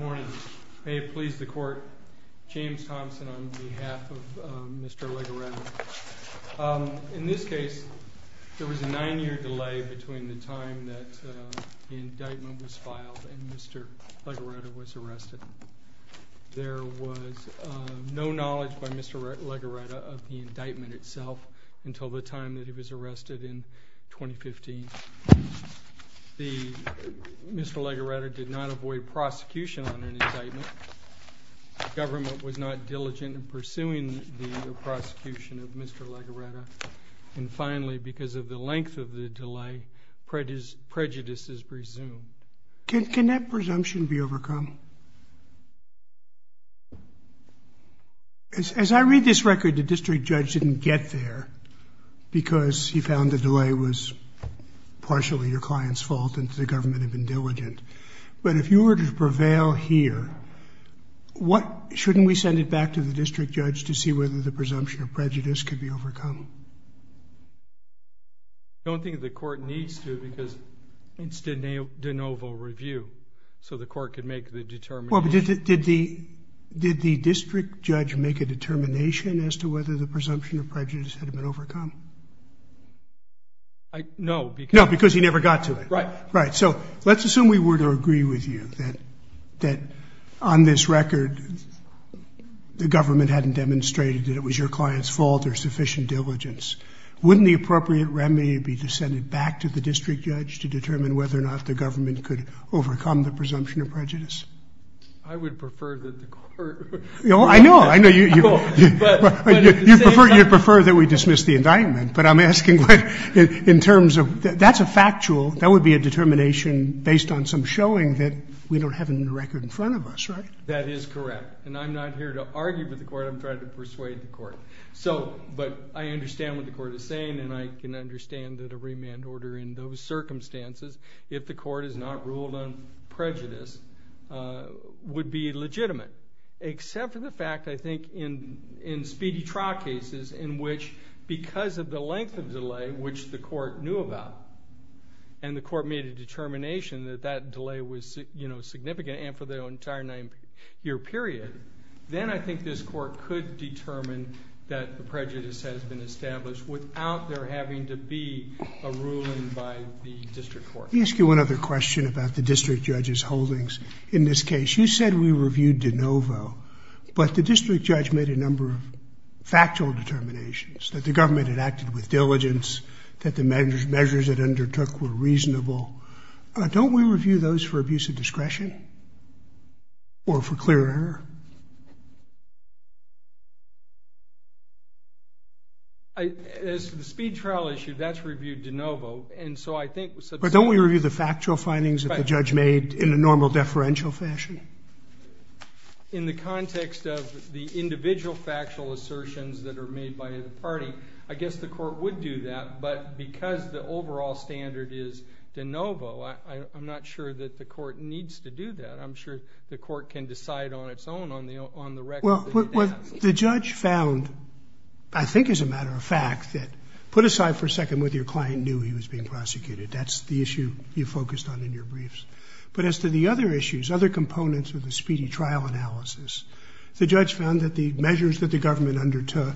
Morning. May it please the court, James Thompson on behalf of Mr. Legoretta. In this case, there was a nine-year delay between the time that the indictment was filed and Mr. Legoretta was arrested. There was no knowledge by Mr. Legoretta of the indictment itself until the time that he was arrested in 2015. Mr. Legoretta did not avoid prosecution on an indictment. The government was not diligent in pursuing the prosecution of Mr. Legoretta. And finally, because of the length of the delay, prejudice is presumed. Can that presumption be overcome? As I read this record, the district judge didn't get there because he found the delay was partially your client's fault and the government had been diligent. But if you were to prevail here, shouldn't we send it back to the district judge to see whether the presumption of prejudice could be overcome? I don't think the court needs to because it's de novo review. So the court could make the determination. Did the district judge make a determination as to whether the presumption of prejudice had been overcome? No, because he never got to it. Right. So let's assume we were to agree with you that on this record the government hadn't demonstrated that it was your client's fault or sufficient diligence. Wouldn't the appropriate remedy be to send it back to the district judge to determine whether or not the government could overcome the presumption of prejudice? I would prefer that the court... I know, I know. You'd prefer that we dismiss the indictment. But I'm asking in terms of, that's a factual, that would be a determination based on some showing that we don't have a new record in front of us, right? That is correct. And I'm not here to argue with the court, I'm trying to persuade the court. So, but I understand what the court is saying and I can understand that a remand order in those circumstances, if the court has not ruled on prejudice, would be legitimate. Except for the fact, I think, in speedy trial cases in which because of the length of delay, which the court knew about, and the court made a determination that that delay was significant and for the entire nine-year period, then I think this court could determine that the prejudice has been established without there having to be a ruling by the district court. Let me ask you one other question about the district judge's holdings in this case. You said we reviewed de novo, but the district judge made a number of factual determinations, that the government had acted with diligence, that the measures it undertook were reasonable. Don't we review those for abuse of discretion? Or for clear error? As for the speed trial issue, that's reviewed de novo, and so I think... But don't we review the factual findings that the judge made in a normal deferential fashion? In the context of the individual factual assertions that are made by the party, I guess the court would do that, but because the overall standard is de novo, I'm not sure that the court needs to do that. I'm sure the court can decide on its own on the record that it has. But what the judge found, I think as a matter of fact, that put aside for a second whether your client knew he was being prosecuted. That's the issue you focused on in your briefs. But as to the other issues, other components of the speedy trial analysis, the judge found that the measures that the government undertook,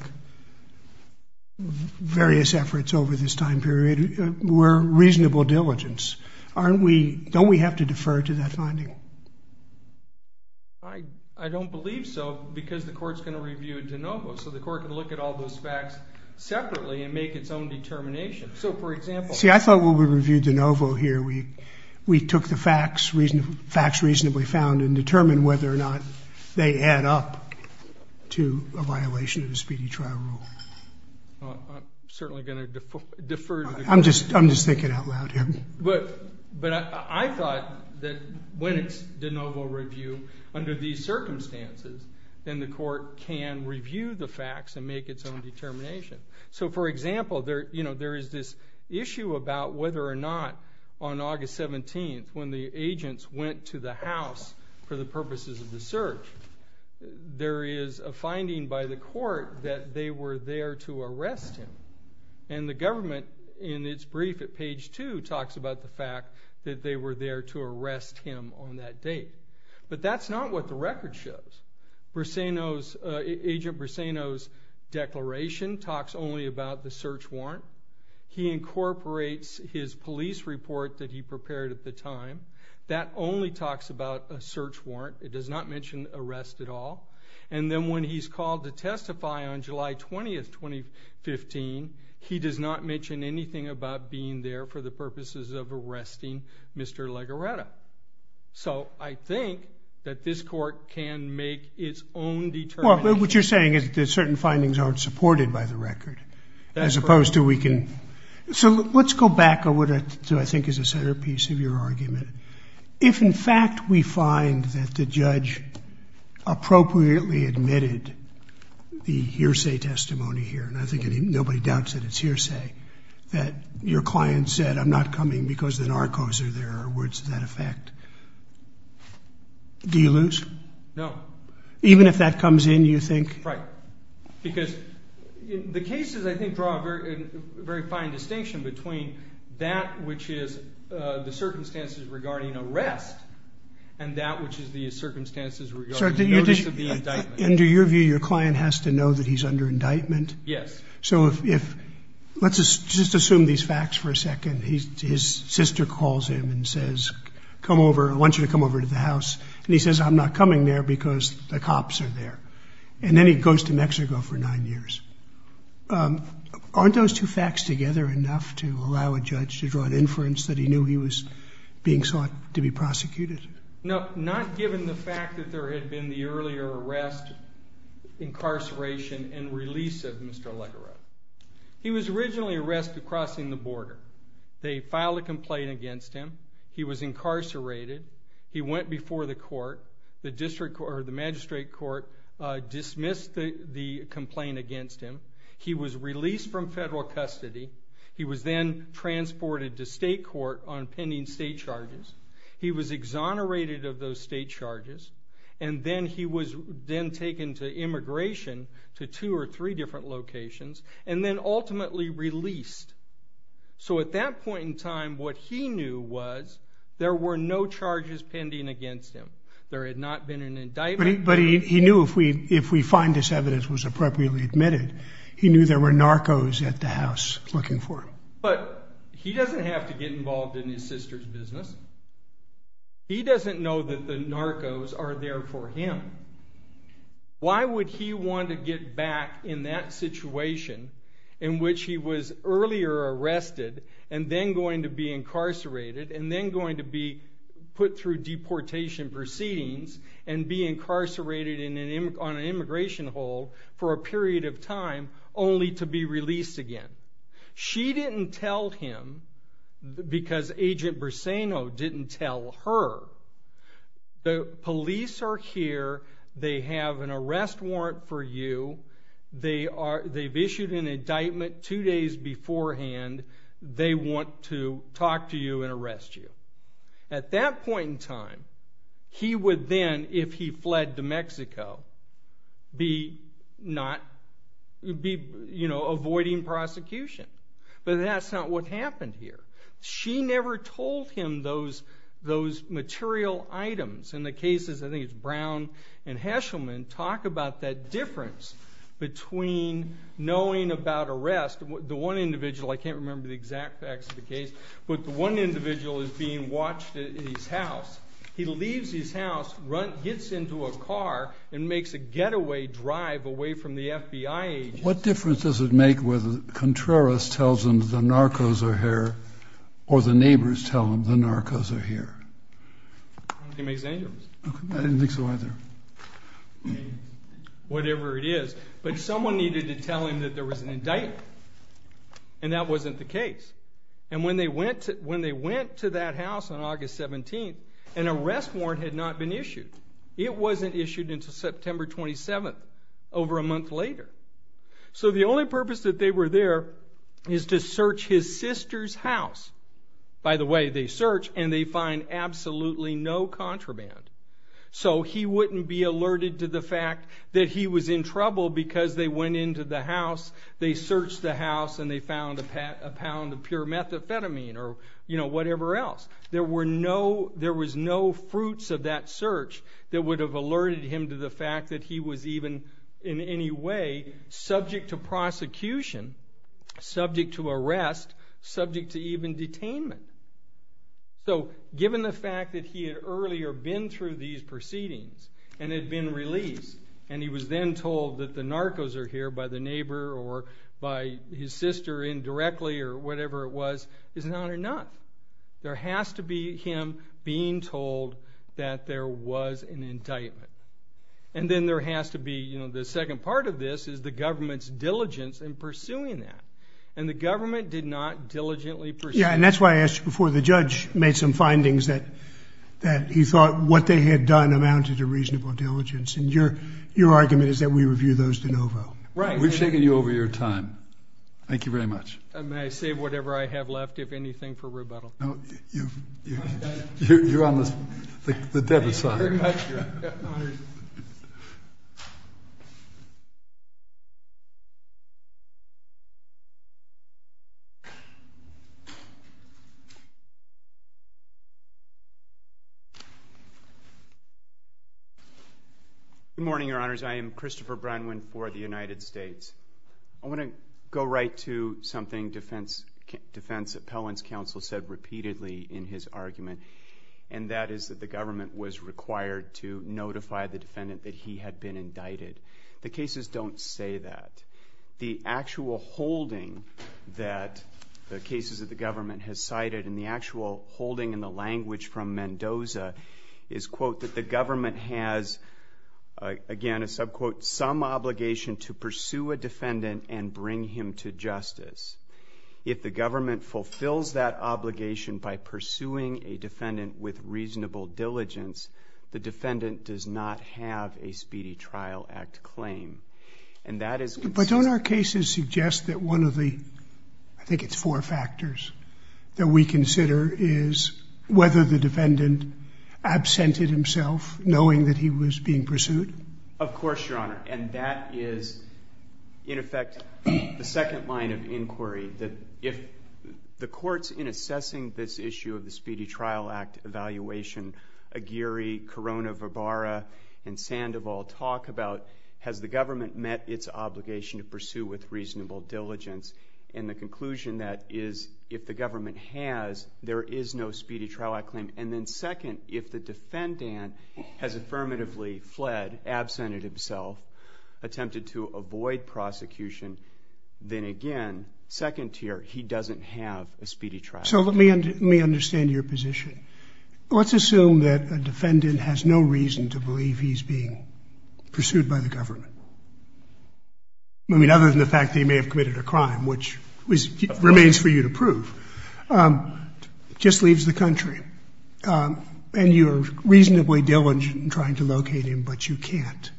various efforts over this time period, were reasonable diligence. Don't we have to defer to that finding? I don't believe so, because the court's going to review de novo, so the court can look at all those facts separately and make its own determination. So, for example... See, I thought when we reviewed de novo here, we took the facts reasonably found and determined whether or not they add up to a violation of the speedy trial rule. I'm certainly going to defer to the court. I'm just thinking out loud here. But I thought that when it's de novo review under these circumstances, then the court can review the facts and make its own determination. So, for example, there is this issue about whether or not on August 17th, when the agents went to the house for the purposes of the search, there is a finding by the court that they were there to arrest him. And the government, in its brief at page 2, talks about the fact that they were there to arrest him on that date. But that's not what the record shows. Agent Breseno's declaration talks only about the search warrant. He incorporates his police report that he prepared at the time. That only talks about a search warrant. It does not mention arrest at all. And then when he's called to testify on July 20th, 2015, he does not mention anything about being there for the purposes of arresting Mr. Legareta. So I think that this court can make its own determination. Well, what you're saying is that certain findings aren't supported by the record, as opposed to we can... So let's go back to what I think is a centerpiece of your argument. If, in fact, we find that the judge appropriately admitted the hearsay testimony here, and I think nobody doubts that it's hearsay, that your client said, I'm not coming because the narcos are there, or words to that effect, do you lose? No. Even if that comes in, you think? Because the cases, I think, draw a very fine distinction between that which is the circumstances regarding arrest and that which is the circumstances regarding notice of the indictment. Under your view, your client has to know that he's under indictment? Yes. So let's just assume these facts for a second. His sister calls him and says, I want you to come over to the house. And he says, I'm not coming there because the cops are there. And then he goes to Mexico for nine years. Aren't those two facts together enough to allow a judge to draw an inference that he knew he was being sought to be prosecuted? No, not given the fact that there had been the earlier arrest, incarceration, and release of Mr. Allegaro. He was originally arrested crossing the border. They filed a complaint against him. He was incarcerated. He went before the court. The magistrate court dismissed the complaint against him. He was released from federal custody. He was then transported to state court on pending state charges. He was exonerated of those state charges. And then he was then taken to immigration to two or three different locations and then ultimately released. So at that point in time, what he knew was there were no charges pending against him. There had not been an indictment. But he knew if we find this evidence was appropriately admitted, he knew there were narcos at the house looking for him. But he doesn't have to get involved in his sister's business. He doesn't know that the narcos are there for him. Why would he want to get back in that situation in which he was earlier arrested and then going to be incarcerated and then going to be put through deportation proceedings and be incarcerated on an immigration hold for a period of time, only to be released again? She didn't tell him because Agent Berseno didn't tell her. The police are here. They have an arrest warrant for you. They've issued an indictment two days beforehand. They want to talk to you and arrest you. At that point in time, he would then, if he fled to Mexico, be avoiding prosecution. But that's not what happened here. She never told him those material items. In the cases, I think it's Brown and Heschelman, talk about that difference between knowing about arrest. The one individual, I can't remember the exact facts of the case, but the one individual is being watched at his house. He leaves his house, gets into a car, and makes a getaway drive away from the FBI agent. What difference does it make whether Contreras tells him the narcos are here or the neighbors tell him the narcos are here? I don't think it makes any difference. I don't think so either. Whatever it is. But someone needed to tell him that there was an indictment, and that wasn't the case. And when they went to that house on August 17th, an arrest warrant had not been issued. It wasn't issued until September 27th, over a month later. So the only purpose that they were there is to search his sister's house. By the way, they search, and they find absolutely no contraband. So he wouldn't be alerted to the fact that he was in trouble because they went into the house, they searched the house, and they found a pound of pure methamphetamine or whatever else. There was no fruits of that search that would have alerted him to the fact that he was even in any way subject to prosecution, subject to arrest, subject to even detainment. So given the fact that he had earlier been through these proceedings and had been released, and he was then told that the narcos are here by the neighbor or by his sister indirectly or whatever it was, it's an honor not. There has to be him being told that there was an indictment. And then there has to be, you know, the second part of this is the government's diligence in pursuing that. And the government did not diligently pursue that. Yeah, and that's why I asked you before the judge made some findings that he thought what they had done amounted to reasonable diligence. And your argument is that we review those de novo. Right. We've taken you over your time. Thank you very much. May I save whatever I have left, if anything, for rebuttal? No, you're on the debtor's side. Thank you very much. Good morning, Your Honors. I am Christopher Brunwyn for the United States. I want to go right to something defense appellants counsel said repeatedly in his argument, and that is that the government was required to notify the defendant that he had been indicted. The cases don't say that. The actual holding that the cases of the government has cited and the actual holding in the language from Mendoza is, quote, that the government has, again, a sub-quote, some obligation to pursue a defendant and bring him to justice. If the government fulfills that obligation by pursuing a defendant with reasonable diligence, the defendant does not have a Speedy Trial Act claim. But don't our cases suggest that one of the, I think it's four factors, that we consider is whether the defendant absented himself knowing that he was being pursued? Of course, Your Honor. And that is, in effect, the second line of inquiry, that if the courts in assessing this issue of the Speedy Trial Act evaluation, Aguirre, Corona-Vibara, and Sandoval talk about, has the government met its obligation to pursue with reasonable diligence? And the conclusion that is, if the government has, there is no Speedy Trial Act claim. And then second, if the defendant has affirmatively fled, absented himself, attempted to avoid prosecution, then again, second tier, he doesn't have a Speedy Trial Act claim. So let me understand your position. Let's assume that a defendant has no reason to believe he's being pursued by the government. I mean, other than the fact that he may have committed a crime, which remains for you to prove. Just leaves the country. And you're reasonably diligent in trying to locate him, but you can't.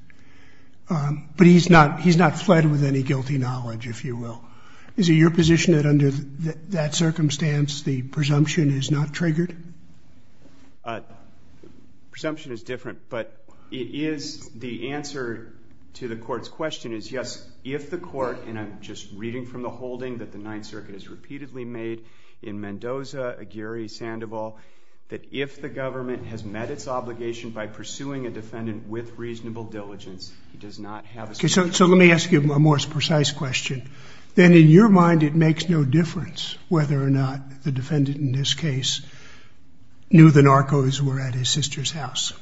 But he's not fled with any guilty knowledge, if you will. Is it your position that under that circumstance, the presumption is not triggered? Presumption is different, but it is the answer to the court's question is yes, if the court, and I'm just reading from the holding that the Ninth Circuit has repeatedly made in Mendoza, Aguirre, Sandoval, that if the government has met its obligation by pursuing a defendant with reasonable diligence, he does not have a Speedy Trial Act claim. So let me ask you a more precise question. Then in your mind, it makes no difference whether or not the defendant in this case knew the narcos were at his sister's house.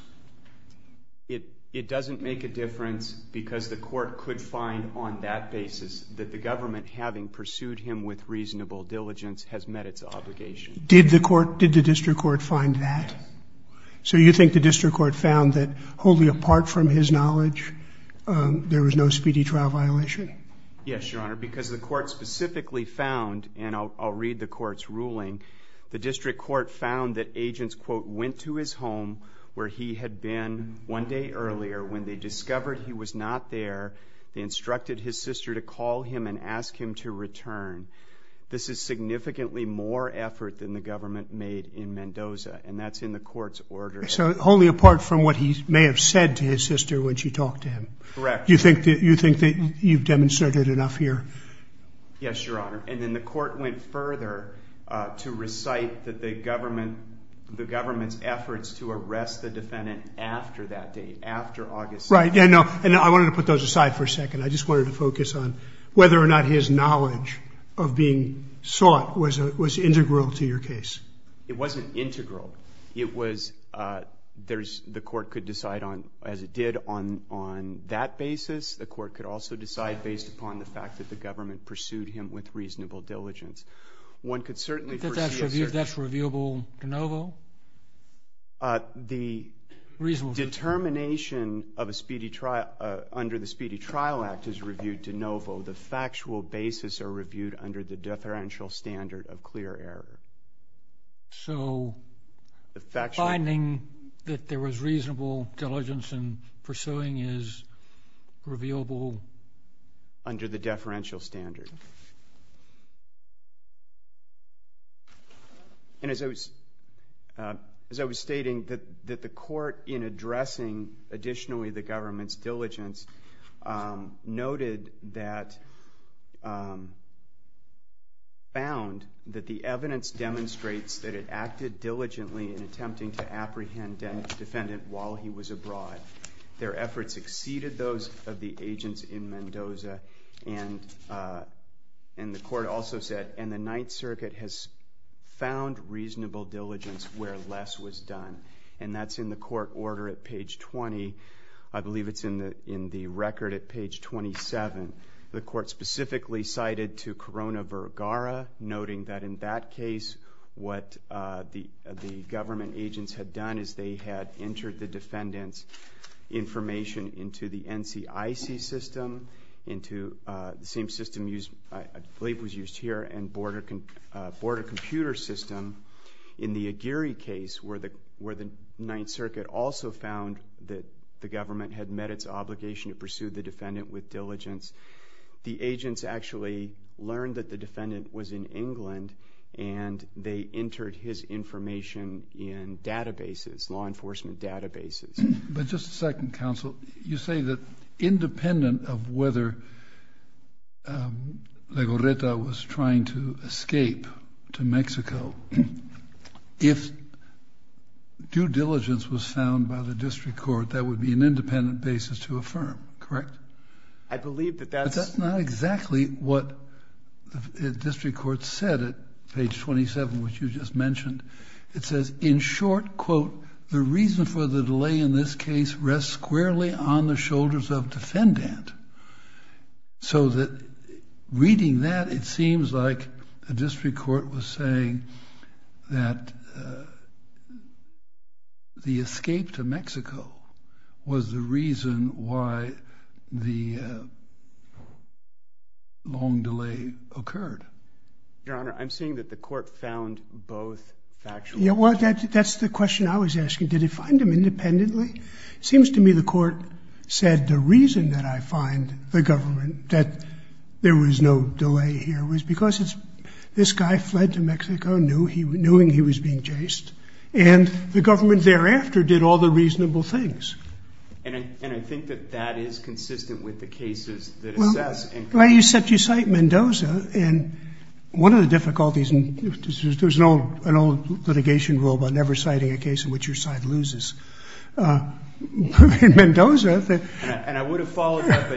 It doesn't make a difference because the court could find on that basis that the government, having pursued him with reasonable diligence, has met its obligation. Did the court, did the district court find that? So you think the district court found that wholly apart from his knowledge, there was no speedy trial violation? Yes, Your Honor, because the court specifically found, and I'll read the court's ruling, the district court found that agents, quote, went to his home where he had been one day earlier when they discovered he was not there. They instructed his sister to call him and ask him to return. This is significantly more effort than the government made in Mendoza, and that's in the court's order. So wholly apart from what he may have said to his sister when she talked to him? Correct. You think that you've demonstrated enough here? Yes, Your Honor, and then the court went further to recite that the government's efforts to arrest the defendant after that date, after August 7th. Right, and I wanted to put those aside for a second. I just wanted to focus on whether or not his knowledge of being sought was integral to your case. It wasn't integral. The court could decide, as it did, on that basis. The court could also decide based upon the fact that the government pursued him with reasonable diligence. One could certainly foresee a certain… Is that reviewable de novo? The determination under the Speedy Trial Act is reviewed de novo. The factual basis are reviewed under the deferential standard of clear error. So finding that there was reasonable diligence in pursuing is reviewable? Under the deferential standard. And as I was stating, that the court, in addressing additionally the government's diligence, noted that, found that the evidence demonstrates that it acted diligently in attempting to apprehend the defendant while he was abroad. Their efforts exceeded those of the agents in Mendoza, and the court also said, and the Ninth Circuit has found reasonable diligence where less was done. And that's in the court order at page 20. I believe it's in the record at page 27. The court specifically cited to Corona Vergara, noting that in that case, what the government agents had done is they had entered the defendant's information into the NCIC system, into the same system used, I believe was used here, and border computer system. In the Aguirre case, where the Ninth Circuit also found that the government had met its obligation to pursue the defendant with diligence, the agents actually learned that the defendant was in England and they entered his information in databases, law enforcement databases. But just a second, counsel. You say that independent of whether Legorreta was trying to escape to Mexico, if due diligence was found by the district court, that would be an independent basis to affirm, correct? I believe that that's... But that's not exactly what the district court said at page 27, which you just mentioned. It says, in short, quote, the reason for the delay in this case rests squarely on the shoulders of defendant. So that reading that, it seems like the district court was saying that the escape to Mexico was the reason why the long delay occurred. Your Honor, I'm saying that the court found both factual... Yeah, well, that's the question I was asking. Did it find them independently? It seems to me the court said the reason that I find the government that there was no delay here was because this guy fled to Mexico, knowing he was being chased, and the government thereafter did all the reasonable things. And I think that that is consistent with the cases that assess... Well, you cite Mendoza, and one of the difficulties, and there's an old litigation rule about never citing a case in which your side loses. Mendoza... And I would have followed that,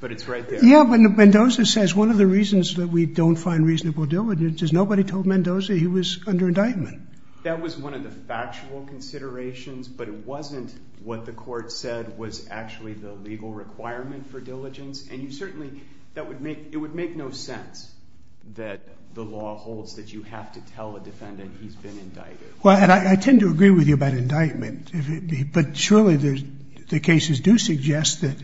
but it's right there. Yeah, but Mendoza says one of the reasons that we don't find reasonable diligence is nobody told Mendoza he was under indictment. That was one of the factual considerations, but it wasn't what the court said was actually the legal requirement for diligence. And you certainly... It would make no sense that the law holds that you have to tell a defendant he's been indicted. Well, and I tend to agree with you about indictment, but surely the cases do suggest that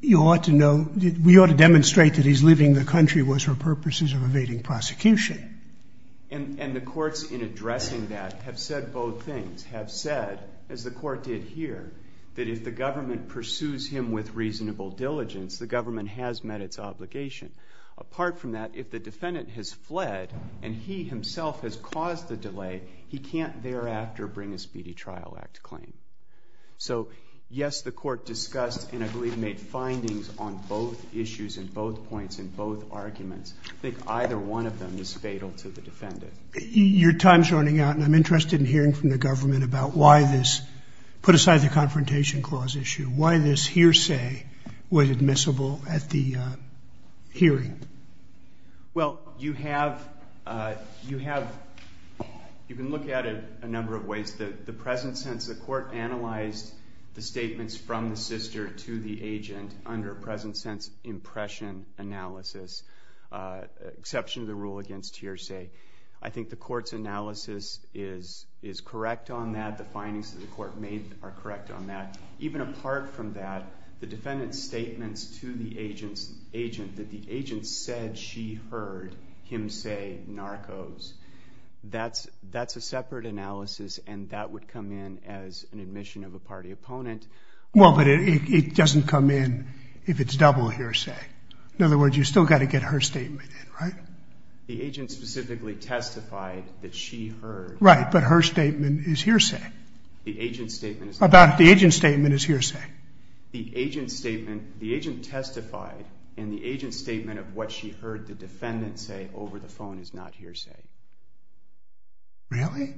you ought to know, we ought to demonstrate that he's leaving the country was for purposes of evading prosecution. And the courts in addressing that have said both things, have said, as the court did here, that if the government pursues him with reasonable diligence, the government has met its obligation. Apart from that, if the defendant has fled and he himself has caused the delay, he can't thereafter bring a Speedy Trial Act claim. So, yes, the court discussed and, I believe, made findings on both issues and both points and both arguments. I think either one of them is fatal to the defendant. Your time's running out, and I'm interested in hearing from the government about why this, put aside the Confrontation Clause issue, why this hearsay was admissible at the hearing. Well, you have, you have, you can look at it a number of ways. The present sense, the court analyzed the statements from the sister to the agent under a present sense impression analysis, exception to the rule against hearsay. I think the court's analysis is correct on that. The findings that the court made are correct on that. Even apart from that, the defendant's statements to the agent, that the agent said she heard him say narcos, that's a separate analysis, and that would come in as an admission of a party opponent. Well, but it doesn't come in if it's double hearsay. In other words, you've still got to get her statement in, right? The agent specifically testified that she heard. Right, but her statement is hearsay. The agent's statement is hearsay. The agent's statement is hearsay. The agent's statement, the agent testified in the agent's statement of what she heard the defendant say over the phone is not hearsay. Really?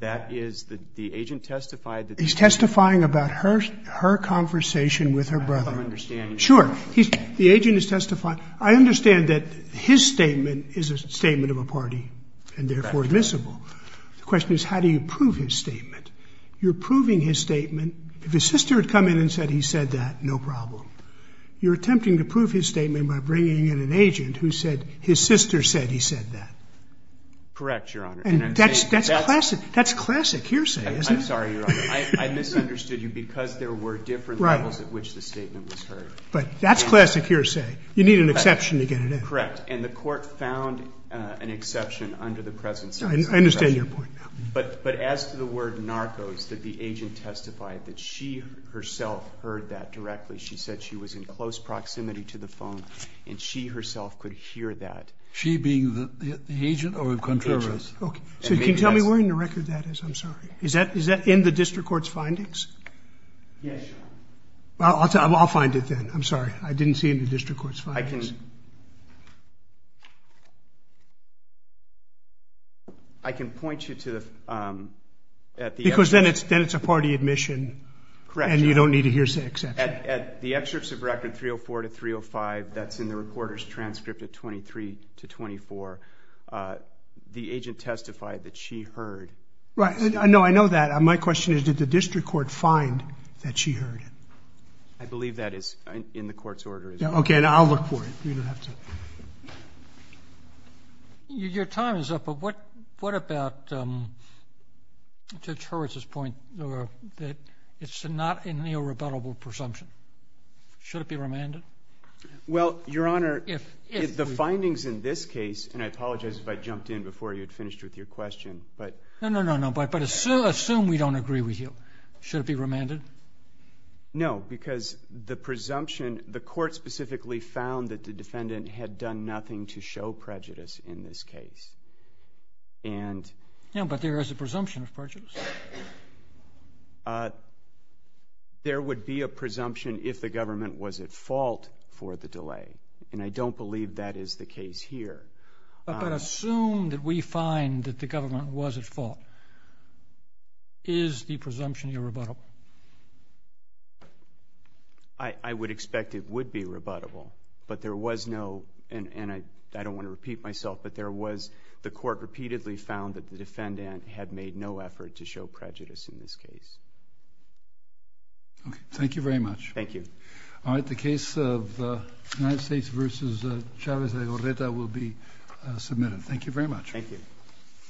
That is, the agent testified that the defendant. He's testifying about her conversation with her brother. I'm understanding. Sure. The agent is testifying. I understand that his statement is a statement of a party and therefore admissible. The question is how do you prove his statement? You're proving his statement. If his sister had come in and said he said that, no problem. You're attempting to prove his statement by bringing in an agent who said his sister said he said that. Correct, Your Honor. And that's classic hearsay, isn't it? I'm sorry, Your Honor. I misunderstood you because there were different levels at which the statement was heard. But that's classic hearsay. You need an exception to get it in. Correct. And the court found an exception under the present sentence. I understand your point. But as to the word narcos, the agent testified that she herself heard that directly. She said she was in close proximity to the phone and she herself could hear that. She being the agent or the contrarian? Agent. Okay. So can you tell me where in the record that is? I'm sorry. Is that in the district court's findings? Yes, Your Honor. I'll find it then. I'm sorry. I didn't see it in the district court's findings. I can point you to the at the excerpt. Because then it's a party admission. Correct, Your Honor. And you don't need a hearsay exception. At the excerpts of record 304 to 305, that's in the reporter's transcript at 23 to 24, the agent testified that she heard. Right. No, I know that. My question is did the district court find that she heard it? I believe that is in the court's order. Okay. I'll look for it. You don't have to. Your time is up. But what about Judge Hurwitz's point that it's not a neorebuttable presumption? Should it be remanded? Well, Your Honor, the findings in this case, and I apologize if I jumped in before you had finished with your question. No, no, no. But assume we don't agree with you. Should it be remanded? No, because the presumption, the court specifically found that the defendant had done nothing to show prejudice in this case. Yeah, but there is a presumption of prejudice. There would be a presumption if the government was at fault for the delay, and I don't believe that is the case here. But assume that we find that the government was at fault. Is the presumption irrebuttable? I would expect it would be rebuttable, but there was no, and I don't want to repeat myself, but there was, the court repeatedly found that the defendant had made no effort to show prejudice in this case. Okay. Thank you very much. Thank you. All right. The case of the United States v. Chavez de Orreta will be submitted. Thank you very much. Thank you.